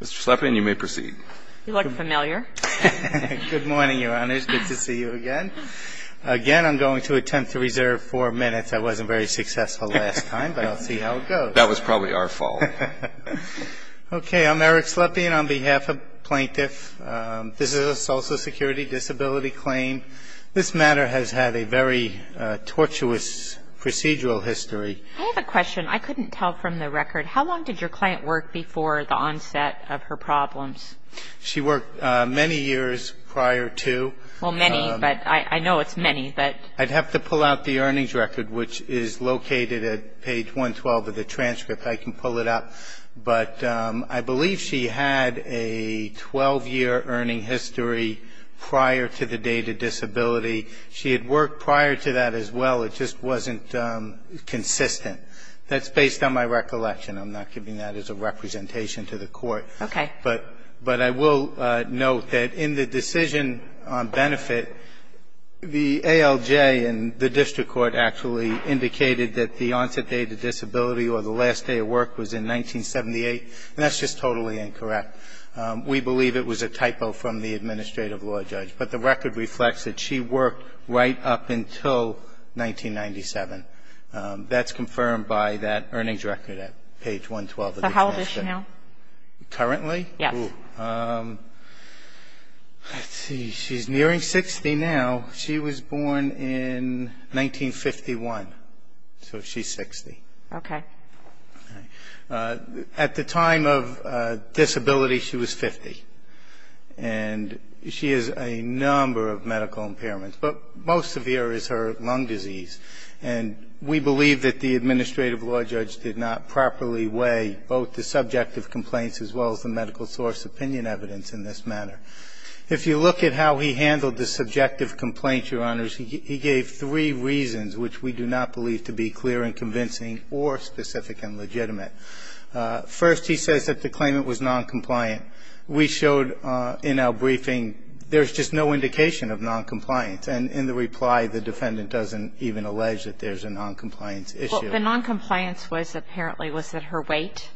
Mr. Slepin, you may proceed. You look familiar. Good morning, Your Honors. Good to see you again. Again, I'm going to attempt to reserve four minutes. I wasn't very successful last time, but I'll see how it goes. That was probably our fault. Okay, I'm Eric Slepin on behalf of plaintiffs. This is a Social Security disability claim. This matter has had a very tortuous procedural history. I have a question. I couldn't tell from the record. How long did your client work before the onset of her problems? She worked many years prior to. Well, many, but I know it's many. I'd have to pull out the earnings record, which is located at page 112 of the transcript. I can pull it out. But I believe she had a 12-year earning history prior to the date of disability. She had worked prior to that as well. It just wasn't consistent. That's based on my recollection. I'm not giving that as a representation to the court. Okay. But I will note that in the decision on benefit, the ALJ and the district court actually indicated that the onset date of disability or the last day of work was in 1978, and that's just totally incorrect. We believe it was a typo from the administrative law judge. But the record reflects that she worked right up until 1997. That's confirmed by that earnings record at page 112 of the transcript. So how old is she now? Currently? Yes. Let's see. She's nearing 60 now. She was born in 1951, so she's 60. Okay. At the time of disability, she was 50, and she has a number of medical impairments, but most severe is her lung disease. And we believe that the administrative law judge did not properly weigh both the subjective complaints as well as the medical source opinion evidence in this manner. If you look at how he handled the subjective complaints, Your Honors, he gave three reasons which we do not believe to be clear and convincing or specific and legitimate. First, he says that the claimant was noncompliant. We showed in our briefing there's just no indication of noncompliance. And in the reply, the defendant doesn't even allege that there's a noncompliance issue. Well, the noncompliance was apparently was that her weight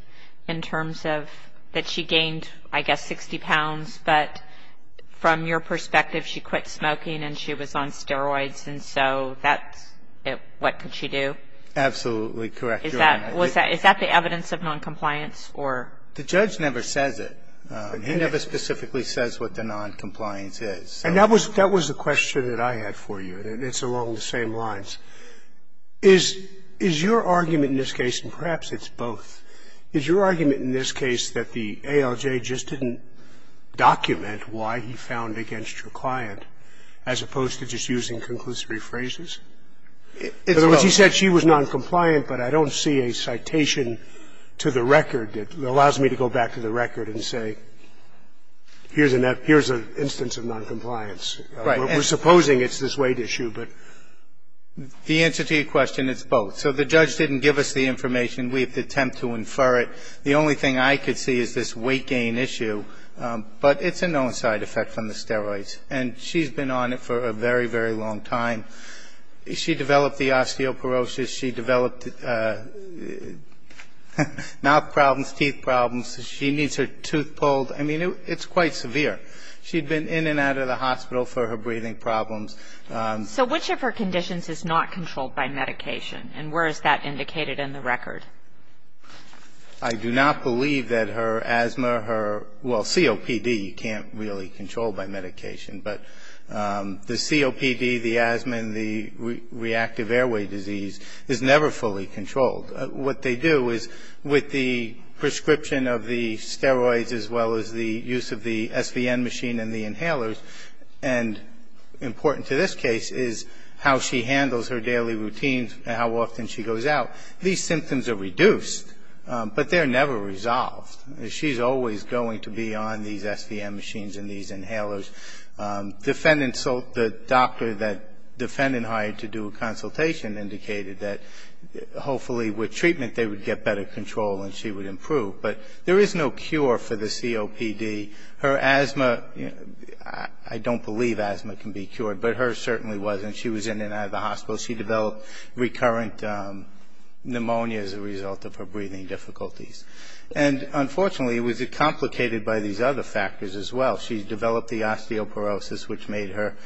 in terms of that she gained, I guess, 60 pounds. But from your perspective, she quit smoking and she was on steroids, and so what could she do? Absolutely correct, Your Honor. Is that the evidence of noncompliance? The judge never says it. He never specifically says what the noncompliance is. And that was the question that I had for you, and it's along the same lines. Is your argument in this case, and perhaps it's both, is your argument in this case that the ALJ just didn't document why he found against your client as opposed to just using conclusive rephrases? In other words, he said she was noncompliant, but I don't see a citation to the record that allows me to go back to the record and say here's an instance of noncompliance. Right. We're supposing it's this weight issue, but the answer to your question, it's both. So the judge didn't give us the information. We have to attempt to infer it. The only thing I could see is this weight gain issue, but it's a known side effect from the steroids. And she's been on it for a very, very long time. She developed the osteoporosis. She developed mouth problems, teeth problems. She needs her tooth pulled. I mean, it's quite severe. She'd been in and out of the hospital for her breathing problems. So which of her conditions is not controlled by medication, and where is that indicated in the record? I do not believe that her asthma, her, well, COPD you can't really control by medication. But the COPD, the asthma, and the reactive airway disease is never fully controlled. What they do is with the prescription of the steroids as well as the use of the SVN machine and the inhalers, and important to this case is how she handles her daily routines and how often she goes out, these symptoms are reduced, but they're never resolved. She's always going to be on these SVN machines and these inhalers. The doctor that the defendant hired to do a consultation indicated that hopefully with treatment they would get better control and she would improve. But there is no cure for the COPD. Her asthma, I don't believe asthma can be cured, but hers certainly wasn't. She was in and out of the hospital. She developed recurrent pneumonia as a result of her breathing difficulties. And unfortunately it was complicated by these other factors as well. She developed the osteoporosis, which made her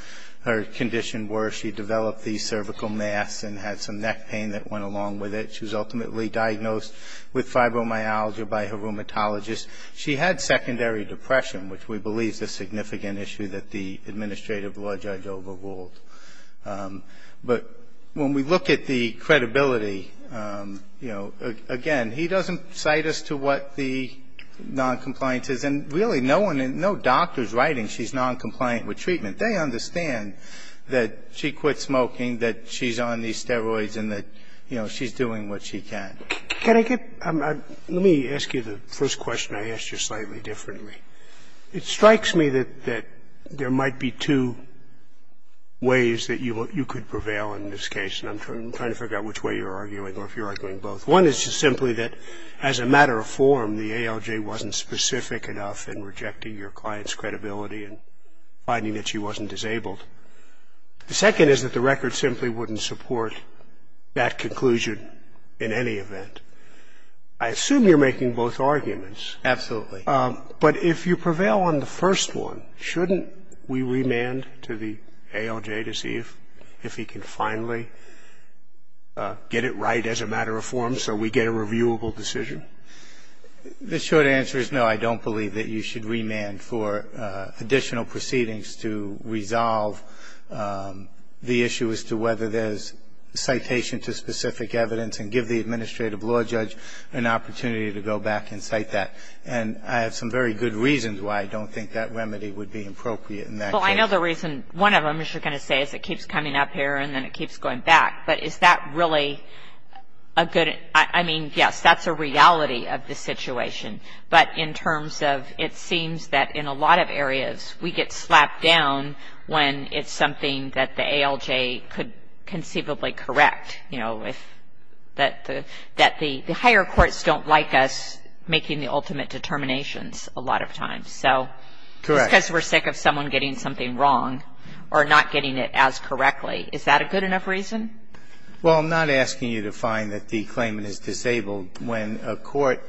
condition worse. She developed the cervical mass and had some neck pain that went along with it. She was ultimately diagnosed with fibromyalgia by her rheumatologist. She had secondary depression, which we believe is a significant issue that the administrative law judge overruled. But when we look at the credibility, you know, again, he doesn't cite us to what the noncompliance is. And really no doctor is writing she's noncompliant with treatment. They understand that she quit smoking, that she's on these steroids and that, you know, she's doing what she can. Can I get – let me ask you the first question I asked you slightly differently. It strikes me that there might be two ways that you could prevail in this case, and I'm trying to figure out which way you're arguing or if you're arguing both. One is just simply that as a matter of form, the ALJ wasn't specific enough in rejecting your client's credibility and finding that she wasn't disabled. The second is that the record simply wouldn't support that conclusion in any event. I assume you're making both arguments. Absolutely. But if you prevail on the first one, shouldn't we remand to the ALJ to see if he can finally get it right as a matter of form so we get a reviewable decision? The short answer is no, I don't believe that you should remand for additional proceedings to resolve the issue as to whether there's citation to specific evidence and give the administrative law judge an opportunity to go back and cite that. And I have some very good reasons why I don't think that remedy would be appropriate in that case. Well, I know the reason – one of them is you're going to say is it keeps coming up here and then it keeps going back, but is that really a good – I mean, yes, that's a reality of the situation, but in terms of it seems that in a lot of areas we get slapped down when it's something that the ALJ could conceivably correct, you know, that the higher courts don't like us making the ultimate determinations a lot of times. So just because we're sick of someone getting something wrong or not getting it as correctly, is that a good enough reason? Well, I'm not asking you to find that the claimant is disabled. When a court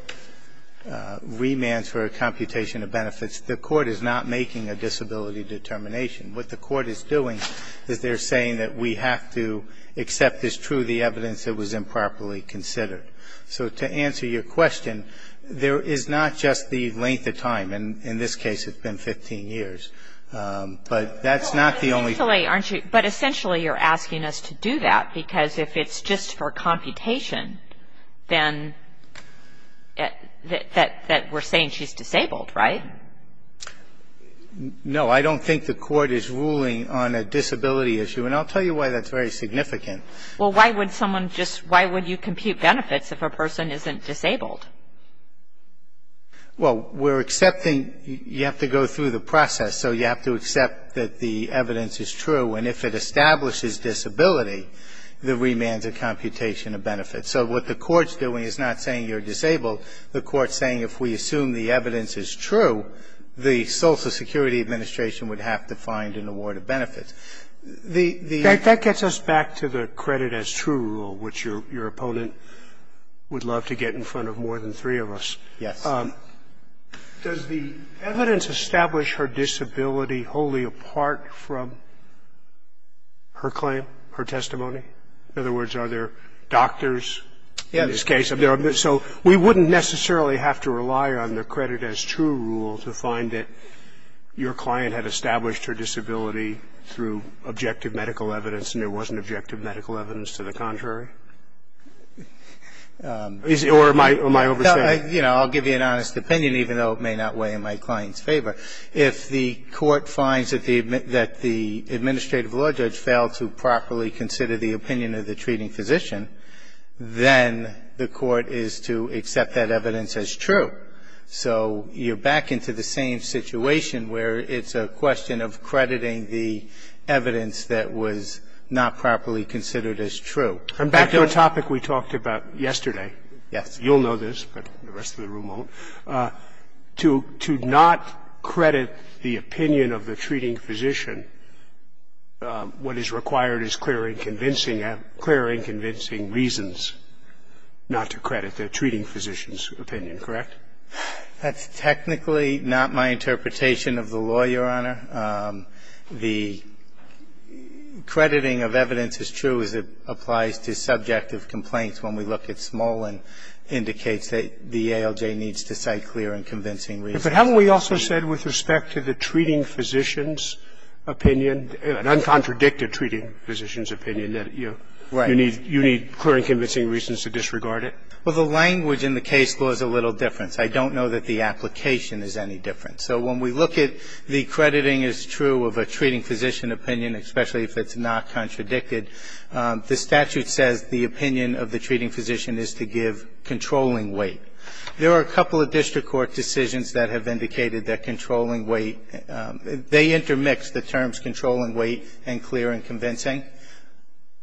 remands for a computation of benefits, the court is not making a disability determination. What the court is doing is they're saying that we have to accept as true the evidence that was improperly considered. So to answer your question, there is not just the length of time. And in this case, it's been 15 years. But that's not the only thing. But essentially, aren't you – but essentially, you're asking us to do that because if it's just for computation, then – that we're saying she's disabled, right? No. I don't think the court is ruling on a disability issue. And I'll tell you why that's very significant. Well, why would someone just – why would you compute benefits if a person isn't disabled? Well, we're accepting – you have to go through the process. So you have to accept that the evidence is true. And if it establishes disability, the remand's a computation of benefits. So what the court's doing is not saying you're disabled. The court's saying if we assume the evidence is true, the Social Security Administration would have to find an award of benefits. The – That gets us back to the credit as true rule, which your opponent would love to get in front of more than three of us. Yes. Does the evidence establish her disability wholly apart from her claim, her testimony? In other words, are there doctors in this case? Yes. So we wouldn't necessarily have to rely on the credit as true rule to find that your client had established her disability through objective medical evidence and there wasn't objective medical evidence to the contrary? Or am I overstating? No. You know, I'll give you an honest opinion, even though it may not weigh in my client's favor. If the court finds that the administrative law judge failed to properly consider the opinion of the treating physician, then the court is to accept that evidence as true. So you're back into the same situation where it's a question of crediting the evidence that was not properly considered as true. And back to the topic we talked about yesterday. Yes. You'll know this, but the rest of the room won't. To not credit the opinion of the treating physician, what is required is clear and convincing reasons not to credit the treating physician's opinion, correct? That's technically not my interpretation of the law, Your Honor. The crediting of evidence as true applies to subjective complaints when we look at Smolin indicates that the ALJ needs to cite clear and convincing reasons. But haven't we also said with respect to the treating physician's opinion, an uncontradicted treating physician's opinion, that you need clear and convincing reasons to disregard it? Well, the language in the case law is a little different. I don't know that the application is any different. So when we look at the crediting as true of a treating physician opinion, especially if it's not contradicted, the statute says the opinion of the treating physician is to give controlling weight. There are a couple of district court decisions that have indicated that controlling weight, they intermix the terms controlling weight and clear and convincing.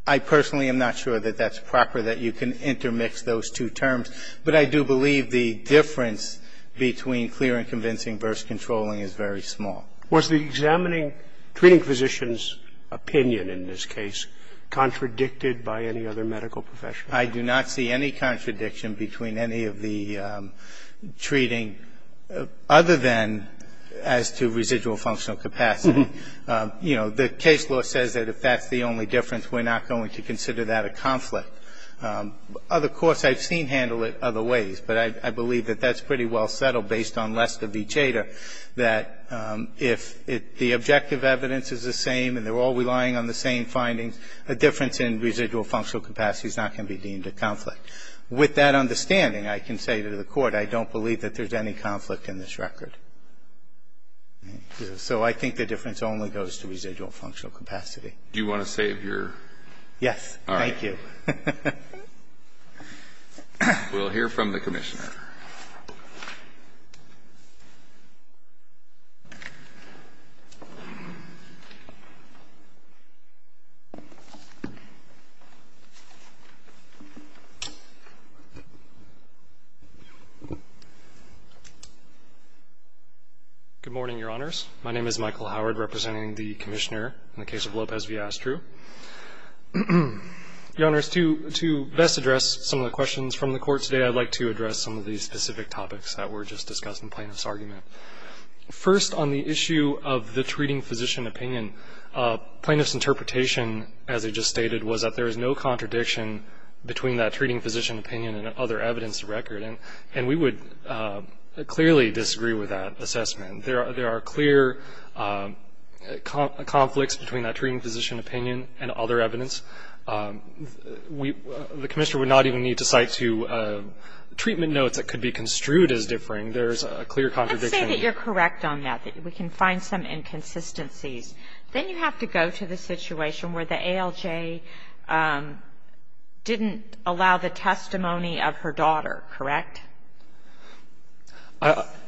I personally am not sure that that's proper, that you can intermix those two terms. But I do believe the difference between clear and convincing versus controlling is very small. Was the examining treating physician's opinion in this case contradicted by any other medical profession? I do not see any contradiction between any of the treating, other than as to residual functional capacity. You know, the case law says that if that's the only difference, we're not going to consider that a conflict. Other courts I've seen handle it other ways, but I believe that that's pretty well settled based on Lester v. Chater, that if the objective evidence is the same and they're all relying on the same findings, a difference in residual functional capacity is not going to be deemed a conflict. With that understanding, I can say to the Court, I don't believe that there's any conflict in this record. So I think the difference only goes to residual functional capacity. Do you want to save your? Yes. All right. Thank you. We'll hear from the Commissioner. Good morning, Your Honors. My name is Michael Howard, representing the Commissioner in the case of Lopez v. Astruz. Your Honors, to best address some of the questions from the Court today, I'd like to address some of the specific topics that were just discussed in Plaintiff's argument. First, on the issue of the treating physician opinion, Plaintiff's interpretation, as I just stated, was that there is no contradiction between that treating physician opinion and other evidence of record. And we would clearly disagree with that assessment. There are clear conflicts between that treating physician opinion and other evidence. The Commissioner would not even need to cite two treatment notes that could be construed as differing. There's a clear contradiction. Let's say that you're correct on that, that we can find some inconsistencies. Then you have to go to the situation where the ALJ didn't allow the testimony of her daughter, correct?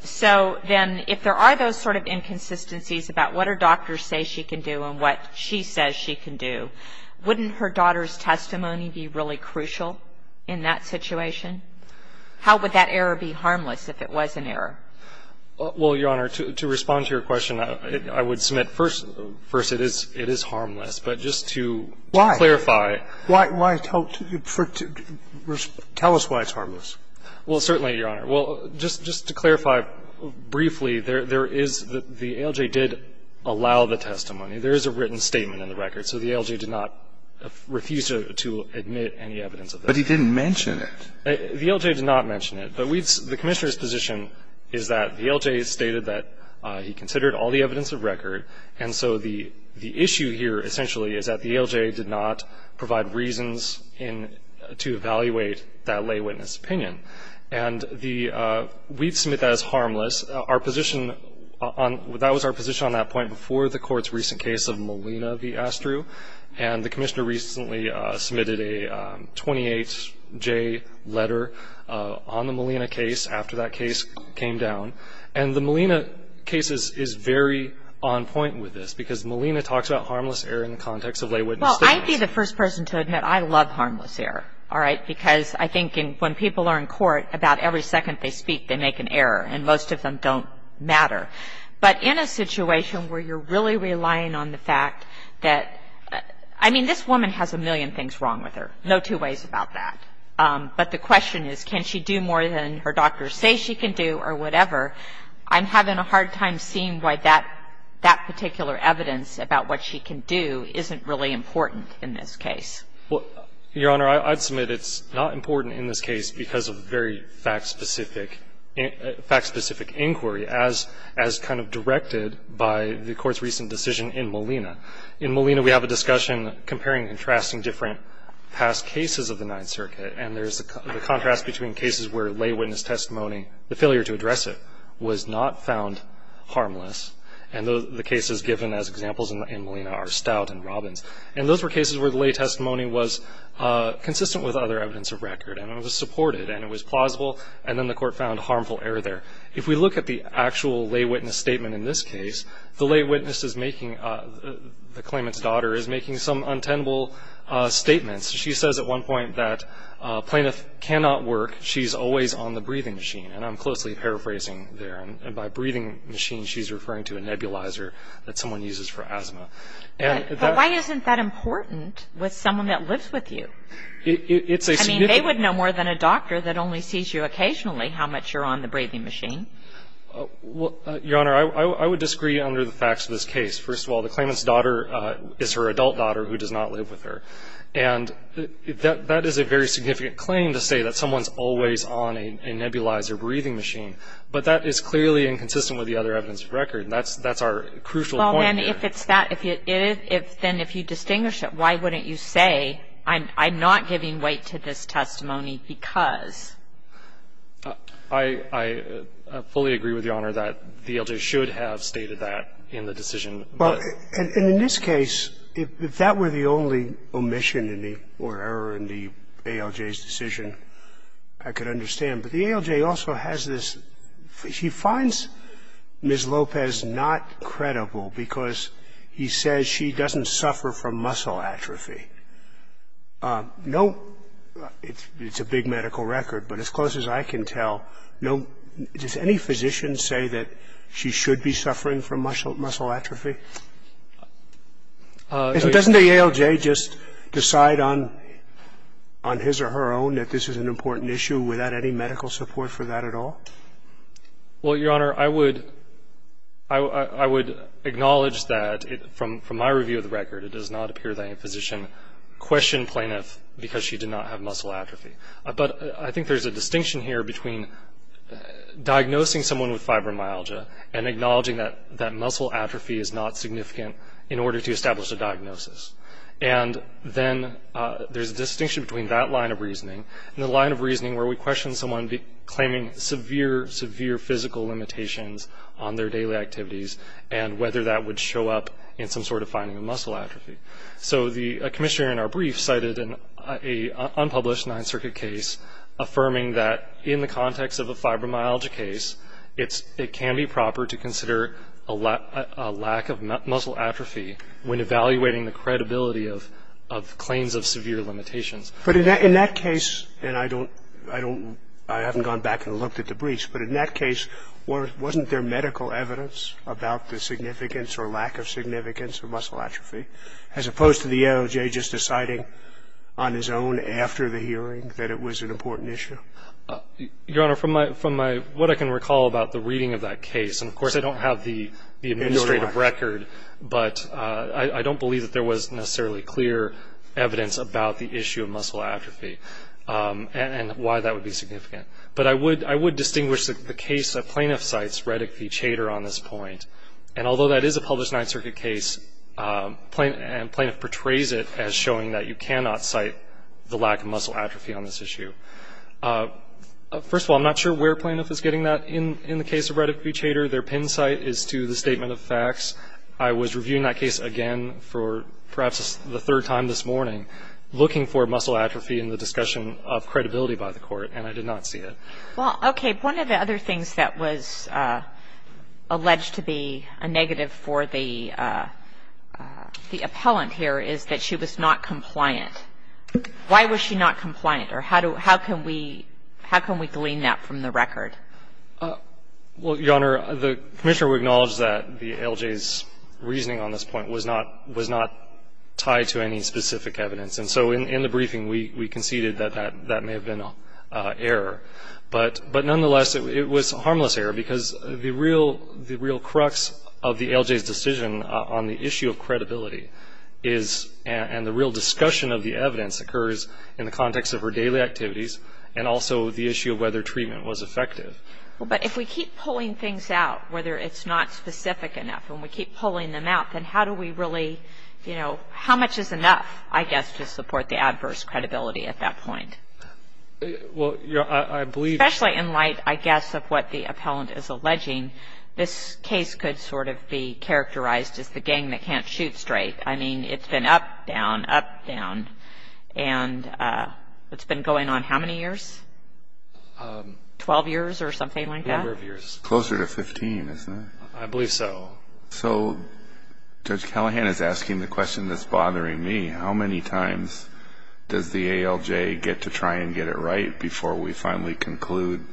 So then if there are those sort of inconsistencies about what her doctors say she can do and what she says she can do, wouldn't her daughter's testimony be really crucial in that situation? How would that error be harmless if it was an error? Well, Your Honor, to respond to your question, I would submit, first, it is harmless. But just to clarify. Why? Tell us why it's harmless. Well, certainly, Your Honor. Well, just to clarify briefly, there is the ALJ did allow the testimony. There is a written statement in the record. So the ALJ did not refuse to admit any evidence of that. But he didn't mention it. The ALJ did not mention it. But the Commissioner's position is that the ALJ stated that he considered all the evidence of record, and so the issue here essentially is that the ALJ did not provide reasons to evaluate that lay witness opinion. And we submit that as harmless. That was our position on that point before the Court's recent case of Molina v. Astru. And the Commissioner recently submitted a 28J letter on the Molina case after that case came down. And the Molina case is very on point with this because Molina talks about harmless error in the context of lay witness testimony. Well, I'd be the first person to admit I love harmless error, all right, because I think when people are in court, about every second they speak, they make an error. And most of them don't matter. But in a situation where you're really relying on the fact that, I mean, this woman has a million things wrong with her. No two ways about that. But the question is, can she do more than her doctors say she can do or whatever? I'm having a hard time seeing why that particular evidence about what she can do isn't really important in this case. Well, Your Honor, I'd submit it's not important in this case because of very fact-specific inquiry as kind of directed by the Court's recent decision in Molina. In Molina, we have a discussion comparing and contrasting different past cases of the Ninth Circuit, and there's a contrast between cases where lay witness testimony, the failure to address it, was not found harmless. And the cases given as examples in Molina are Stout and Robbins. And those were cases where the lay testimony was consistent with other evidence of record, and it was supported, and it was plausible, and then the Court found harmful error there. If we look at the actual lay witness statement in this case, the lay witness is making, the claimant's daughter is making some untenable statements. She says at one point that plaintiff cannot work. She's always on the breathing machine. And I'm closely paraphrasing there. By breathing machine, she's referring to a nebulizer that someone uses for asthma. But why isn't that important with someone that lives with you? I mean, they would know more than a doctor that only sees you occasionally how much you're on the breathing machine. Your Honor, I would disagree under the facts of this case. First of all, the claimant's daughter is her adult daughter who does not live with her. And that is a very significant claim to say that someone's always on a nebulizer breathing machine. But that is clearly inconsistent with the other evidence of record, and that's our crucial point here. Well, then if it's that, if it is, then if you distinguish it, why wouldn't you say I'm not giving weight to this testimony because? I fully agree with Your Honor that the ALJ should have stated that in the decision. Well, and in this case, if that were the only omission or error in the ALJ's decision, I could understand. But the ALJ also has this – she finds Ms. Lopez not credible because he says she doesn't suffer from muscle atrophy. No – it's a big medical record, but as close as I can tell, no – does any physician say that she should be suffering from muscle atrophy? Doesn't the ALJ just decide on his or her own that this is an important issue without any medical support for that at all? Well, Your Honor, I would – I would acknowledge that from my review of the record, it does not appear that any physician questioned plaintiff because she did not have muscle atrophy. But I think there's a distinction here between diagnosing someone with fibromyalgia and acknowledging that muscle atrophy is not significant in order to establish a diagnosis. And then there's a distinction between that line of reasoning and the line of reasoning where we question someone claiming severe, severe physical limitations on their daily activities and whether that would show up in some sort of finding of muscle atrophy. So the commissioner in our brief cited an unpublished Ninth Circuit case affirming that in the context of a fibromyalgia case, it can be proper to consider a lack of muscle atrophy when evaluating the credibility of claims of severe limitations. But in that case – and I don't – I haven't gone back and looked at the briefs, but in that case, wasn't there medical evidence about the significance or lack of significance of muscle atrophy as opposed to the ALJ just deciding on his own after the hearing that it was an important issue? Your Honor, from my – what I can recall about the reading of that case, and of course I don't have the administrative record, but I don't believe that there was necessarily clear evidence about the issue of muscle atrophy and why that would be significant. But I would distinguish the case that plaintiff cites, Reddick v. Chater, on this point. And although that is a published Ninth Circuit case, plaintiff portrays it as showing that you cannot cite the lack of muscle atrophy on this issue. First of all, I'm not sure where plaintiff is getting that in the case of Reddick v. Chater. Their pin site is to the statement of facts. I was reviewing that case again for perhaps the third time this morning, looking for muscle atrophy in the discussion of credibility by the Court, and I did not see it. Well, okay. One of the other things that was alleged to be a negative for the appellant here is that she was not compliant. Why was she not compliant, or how can we glean that from the record? Well, Your Honor, the Commissioner would acknowledge that the ALJ's reasoning on this point was not tied to any specific evidence. And so in the briefing, we conceded that that may have been an error. But nonetheless, it was a harmless error, because the real crux of the ALJ's decision on the issue of credibility is and the real discussion of the evidence occurs in the context of her daily activities and also the issue of whether treatment was effective. But if we keep pulling things out, whether it's not specific enough, and we keep pulling them out, then how do we really, you know, how much is enough, I guess, to support the adverse credibility at that point? Well, Your Honor, I believe that Especially in light, I guess, of what the appellant is alleging, this case could sort of be characterized as the gang that can't shoot straight. I mean, it's been up, down, up, down, and it's been going on how many years? Twelve years or something like that? Number of years. Closer to 15, isn't it? I believe so. So Judge Callahan is asking the question that's bothering me. How many times does the ALJ get to try and get it right before we finally conclude,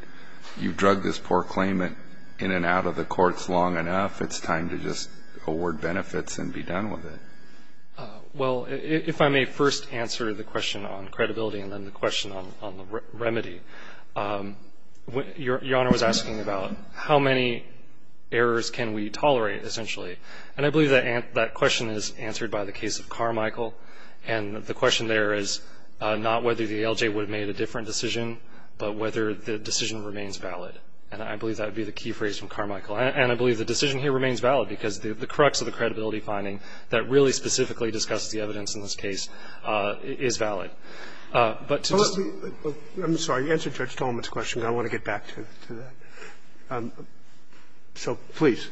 you've drugged this poor claimant in and out of the courts long enough, it's time to just award benefits and be done with it? Well, if I may first answer the question on credibility and then the question on the remedy. Your Honor was asking about how many errors can we tolerate, essentially. And I believe that question is answered by the case of Carmichael. And the question there is not whether the ALJ would have made a different decision, but whether the decision remains valid. And I believe that would be the key phrase from Carmichael. And I believe the decision here remains valid because the crux of the credibility finding that really specifically discusses the evidence in this case is valid. But to just I'm sorry. You answered Judge Tolman's question. I want to get back to that. So please.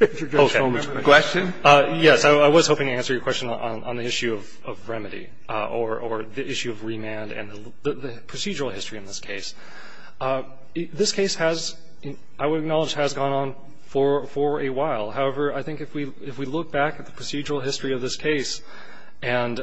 Question? Yes. I was hoping to answer your question on the issue of remedy or the issue of remand and the procedural history in this case. This case has, I would acknowledge, has gone on for a while. However, I think if we look back at the procedural history of this case and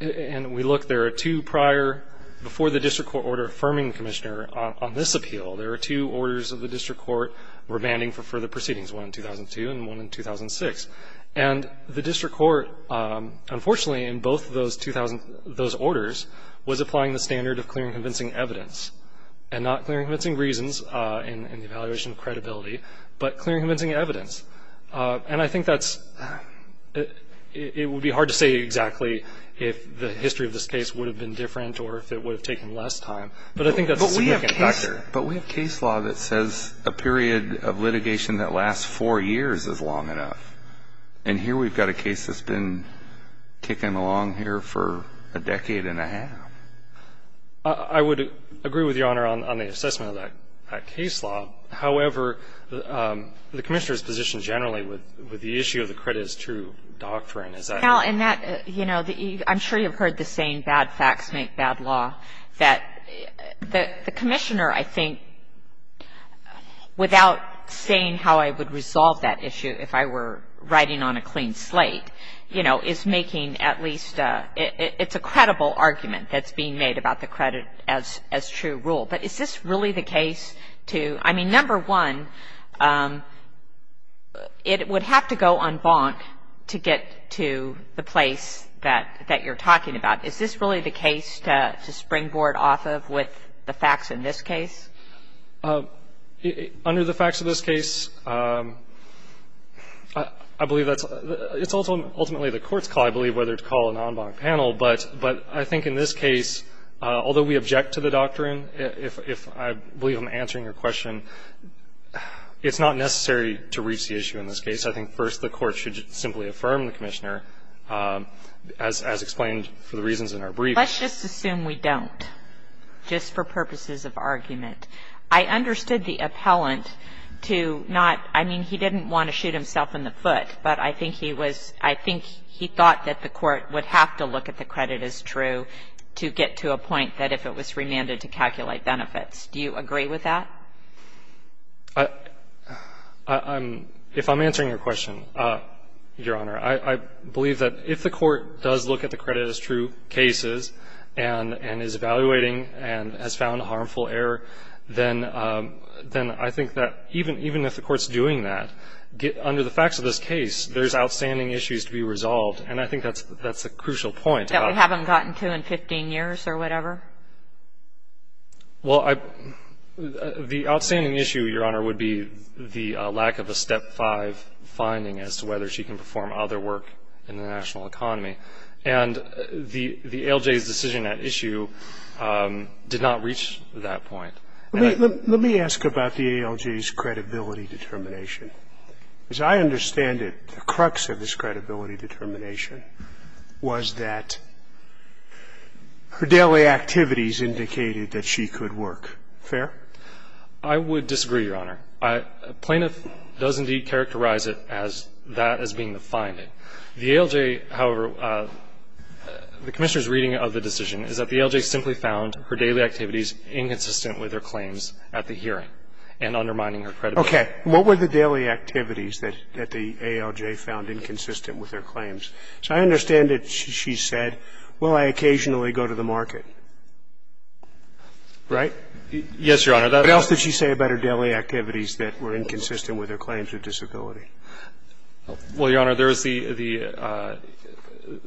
we look there are two prior before the district court order affirming the commissioner on this appeal. There are two orders of the district court remanding for further proceedings, one in 2002 and one in 2006. And the district court, unfortunately, in both of those orders, was applying the standard of clearing convincing evidence, and not clearing convincing reasons in the evaluation of credibility, but clearing convincing evidence. And I think that's, it would be hard to say exactly if the history of this case would have been different or if it would have taken less time. But I think that's a significant factor. But we have case law that says a period of litigation that lasts four years is long enough. And here we've got a case that's been kicking along here for a decade and a half. I would agree with Your Honor on the assessment of that case law. However, the commissioner's position generally with the issue of the credit as true doctrine, is that. Well, and that, you know, I'm sure you've heard the saying bad facts make bad law. That the commissioner, I think, without saying how I would resolve that issue if I were writing on a clean slate, you know, is making at least a, it's a credible argument that's being made about the credit as true rule. But is this really the case to, I mean, number one, it would have to go en banc to get to the place that you're talking about. Is this really the case to springboard off of with the facts in this case? Under the facts of this case, I believe that's, it's ultimately the court's call, I believe, whether to call an en banc panel. But I think in this case, although we object to the doctrine, if I believe I'm answering your question, it's not necessary to reach the issue in this case. I think first the court should simply affirm the commissioner, as explained for the reasons in our brief. Let's just assume we don't, just for purposes of argument. I understood the appellant to not, I mean, he didn't want to shoot himself in the foot, but I think he was, I think he thought that the court would have to look at the credit as true to get to a point that if it was remanded to calculate benefits. Do you agree with that? I'm, if I'm answering your question, Your Honor, I believe that if the court does look at the credit as true cases and is evaluating and has found harmful error, then I think that even if the court's doing that, under the facts of this case, there's outstanding issues to be resolved. And I think that's a crucial point. That we haven't gotten to in 15 years or whatever? Well, the outstanding issue, Your Honor, would be the lack of a step five finding as to whether she can perform other work in the national economy. And the ALJ's decision at issue did not reach that point. Let me ask about the ALJ's credibility determination. As I understand it, the crux of this credibility determination was that her daily activities indicated that she could work. Fair? I would disagree, Your Honor. A plaintiff does indeed characterize it as that as being the finding. The ALJ, however, the Commissioner's reading of the decision is that the ALJ simply found her daily activities inconsistent with her claims at the hearing and undermining her credibility. Okay. What were the daily activities that the ALJ found inconsistent with her claims? As I understand it, she said, well, I occasionally go to the market. Right? Yes, Your Honor. What else did she say about her daily activities that were inconsistent with her claims of disability? Well, Your Honor, there is the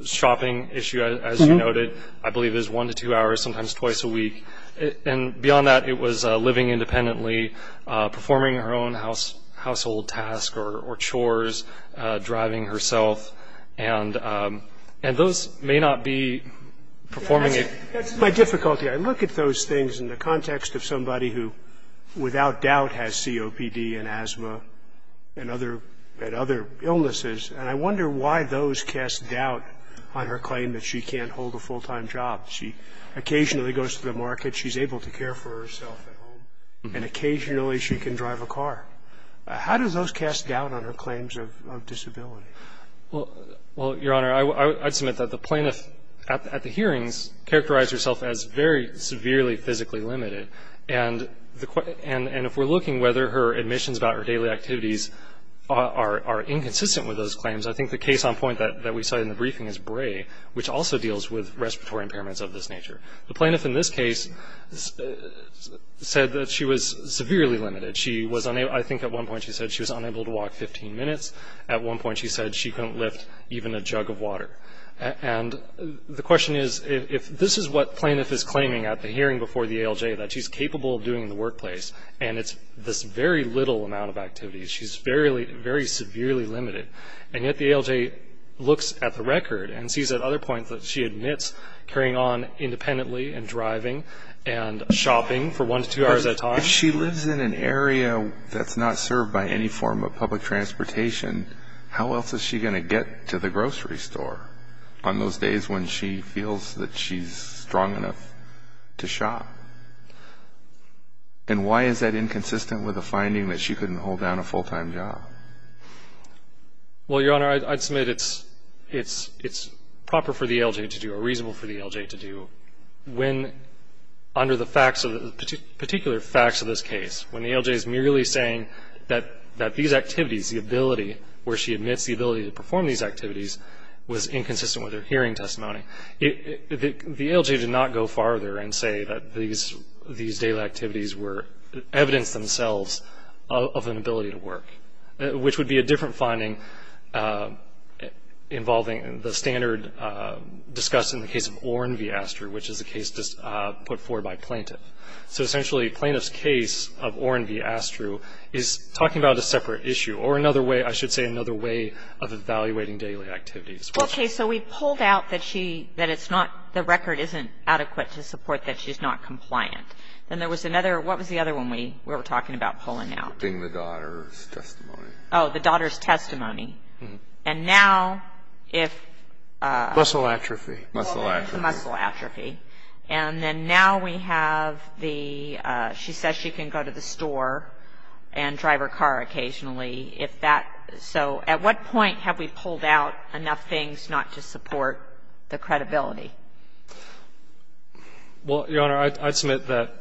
shopping issue, as you noted. I believe it was one to two hours, sometimes twice a week. And beyond that, it was living independently, performing her own household task or chores, driving herself. And those may not be performing it. That's my difficulty. I look at those things in the context of somebody who, without doubt, has COPD and asthma and other illnesses, and I wonder why those cast doubt on her claim that she can't hold a full-time job. She occasionally goes to the market. She's able to care for herself at home. And occasionally she can drive a car. How do those cast doubt on her claims of disability? Well, Your Honor, I would submit that the plaintiff at the hearings characterized herself as very severely physically limited. And if we're looking whether her admissions about her daily activities are inconsistent with those claims, I think the case on point that we saw in the briefing is Bray, which also deals with respiratory impairments of this nature. The plaintiff in this case said that she was severely limited. She was, I think at one point she said she was unable to walk 15 minutes. At one point she said she couldn't lift even a jug of water. And the question is, if this is what plaintiff is claiming at the hearing before the ALJ, that she's capable of doing in the workplace, and it's this very little amount of activities, she's very severely limited. And yet the ALJ looks at the record and sees that other points that she admits, carrying on independently and driving and shopping for one to two hours at a time. If she lives in an area that's not served by any form of public transportation, how else is she going to get to the grocery store on those days when she feels that she's strong enough to shop? And why is that inconsistent with the finding that she couldn't hold down a full-time job? Well, Your Honor, I'd submit it's proper for the ALJ to do or reasonable for the ALJ to do when, under the facts of the particular facts of this case, when the ALJ is merely saying that these activities, the ability where she admits the ability to perform these activities was inconsistent with her hearing testimony. The ALJ did not go farther and say that these daily activities were evidence themselves of an ability to work, which would be a different finding involving the standard discussed in the case of Oren v. Astru, which is a case put forward by Plaintiff. So essentially, Plaintiff's case of Oren v. Astru is talking about a separate issue or another way, I should say, another way of evaluating daily activities. Okay. So we pulled out that she, that it's not, the record isn't adequate to support that she's not compliant. Then there was another, what was the other one we were talking about pulling out? It being the daughter's testimony. Oh, the daughter's testimony. And now if... Muscle atrophy. Muscle atrophy. Muscle atrophy. And then now we have the, she says she can go to the store and drive her car occasionally. So at what point have we pulled out enough things not to support the credibility? Well, Your Honor, I'd submit that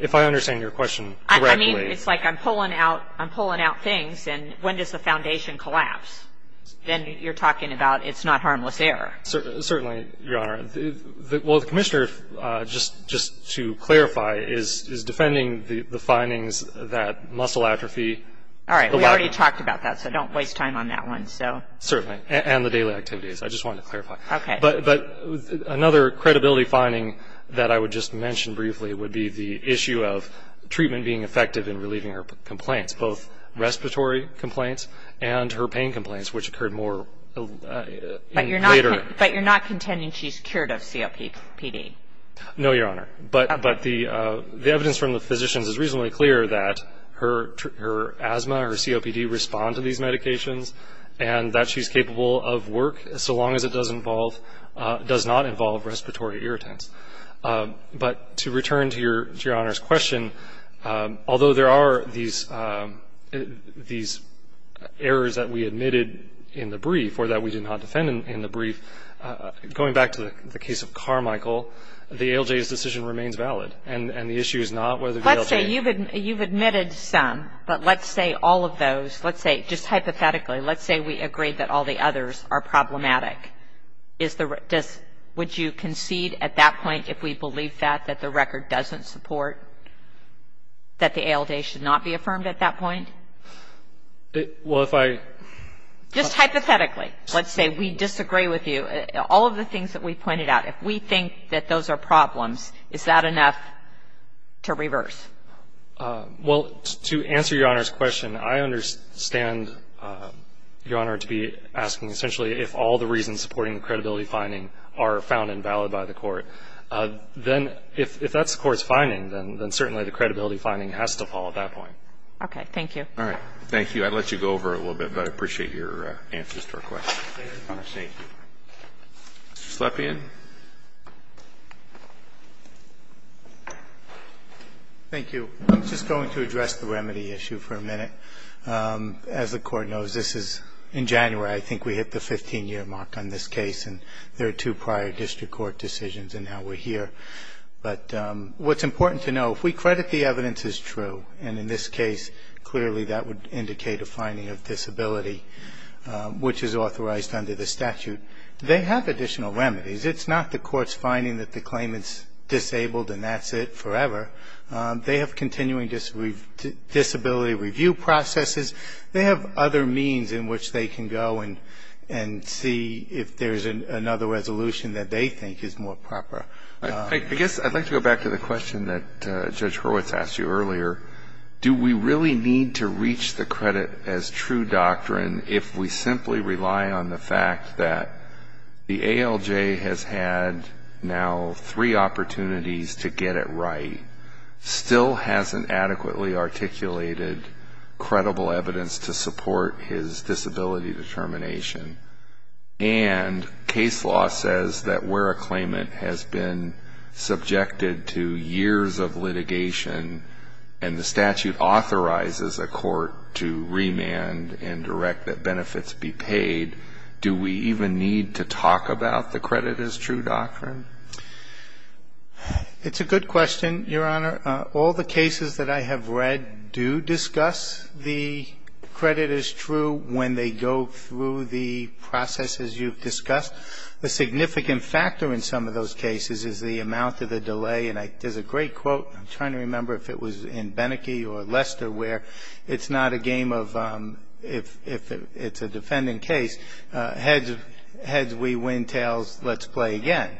if I understand your question correctly... I mean, it's like I'm pulling out things, and when does the foundation collapse? Then you're talking about it's not harmless error. Certainly, Your Honor. Well, the Commissioner, just to clarify, is defending the findings that muscle atrophy... All right. We already talked about that, so don't waste time on that one, so... Certainly. And the daily activities. I just wanted to clarify. Okay. But another credibility finding that I would just mention briefly would be the issue of treatment being effective in relieving her complaints, both respiratory complaints and her pain complaints, which occurred more later. But you're not contending she's cured of COPD? No, Your Honor. But the evidence from the physicians is reasonably clear that her asthma, her COPD, responds to these medications and that she's capable of work, so long as it does not involve respiratory irritants. But to return to Your Honor's question, although there are these errors that we admitted in the brief or that we did not defend in the brief, going back to the case of Carmichael, the ALJ's decision remains valid. And the issue is not whether the ALJ... Let's say you've admitted some, but let's say all of those, let's say just hypothetically, let's say we agree that all the others are problematic. Would you concede at that point, if we believe that, that the record doesn't support that the ALJ should not be affirmed at that point? Well, if I... Just hypothetically, let's say we disagree with you. All of the things that we've pointed out, if we think that those are problems, is that enough to reverse? Well, to answer Your Honor's question, I understand, Your Honor, to be asking essentially if all the reasons supporting the credibility finding are found invalid by the court. Then if that's the court's finding, then certainly the credibility finding has to fall at that point. Okay. Thank you. All right. Thank you. I'd let you go over it a little bit, but I appreciate your answers to our questions. Thank you. Mr. Slepian? Thank you. I'm just going to address the remedy issue for a minute. As the court knows, this is in January. I think we hit the 15-year mark on this case, and there are two prior district court decisions, and now we're here. But what's important to know, if we credit the evidence as true, and in this case, clearly that would indicate a finding of disability, which is authorized under the statute. They have additional remedies. It's not the court's finding that the claimant's disabled and that's it forever. They have continuing disability review processes. They have other means in which they can go and see if there's another resolution that they think is more proper. I guess I'd like to go back to the question that Judge Hurwitz asked you earlier. Do we really need to reach the credit as true doctrine if we simply rely on the fact that the ALJ has had now three opportunities to get it right, still hasn't adequately articulated credible evidence to support his disability determination, and case law says that where a claimant has been subjected to years of litigation and the statute authorizes a court to remand and direct that benefits be paid, do we even need to talk about the credit as true doctrine? It's a good question, Your Honor. All the cases that I have read do discuss the credit as true when they go through the processes you've discussed. The significant factor in some of those cases is the amount of the delay, and there's a great quote. I'm trying to remember if it was in Beneke or Lester, where it's not a game of if it's a defendant case, heads, we win, tails, let's play again.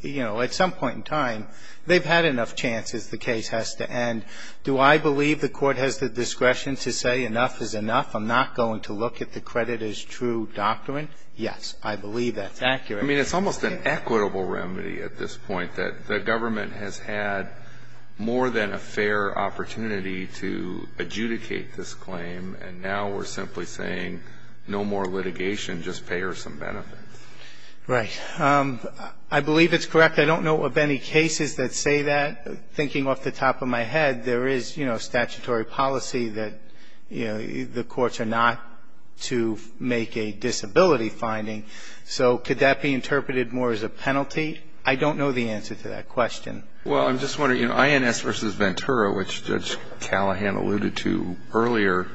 You know, at some point in time, they've had enough chances. The case has to end. Do I believe the court has the discretion to say enough is enough? I'm not going to look at the credit as true doctrine? Yes, I believe that's accurate. I mean, it's almost an equitable remedy at this point, that the government has had more than a fair opportunity to adjudicate this claim, and now we're simply saying no more litigation, just pay her some benefits. Right. I believe it's correct. I don't know of any cases that say that. Thinking off the top of my head, there is statutory policy that the courts are not to make a disability finding, so could that be interpreted more as a penalty? I don't know the answer to that question. Well, I'm just wondering, you know, INS v. Ventura, which Judge Callahan alluded to earlier,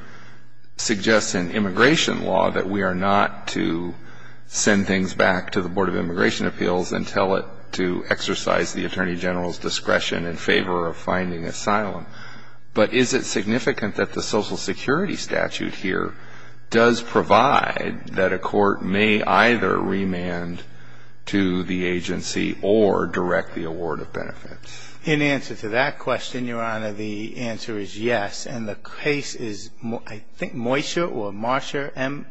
suggests in immigration law that we are not to send things back to the Board of Immigration Appeals and tell it to exercise the Attorney General's discretion in favor of finding asylum, but is it significant that the Social Security statute here does provide that a court may, either remand to the agency or direct the award of benefits? In answer to that question, Your Honor, the answer is yes. And the case is, I think, Moisha or Marsha,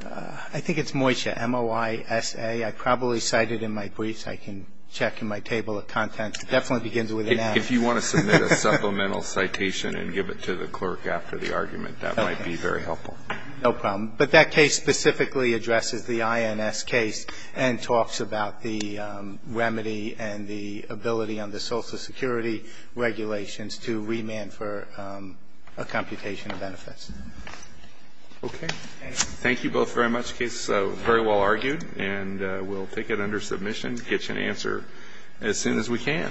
I think it's Moisha, M-O-I-S-A. I probably cited in my briefs. I can check in my table of contents. It definitely begins with an M. If you want to submit a supplemental citation and give it to the clerk after the argument, that might be very helpful. Okay. No problem. But that case specifically addresses the INS case and talks about the remedy and the ability under Social Security regulations to remand for a computation of benefits. Okay. Thank you both very much. The case is very well argued. And we'll take it under submission, get you an answer as soon as we can.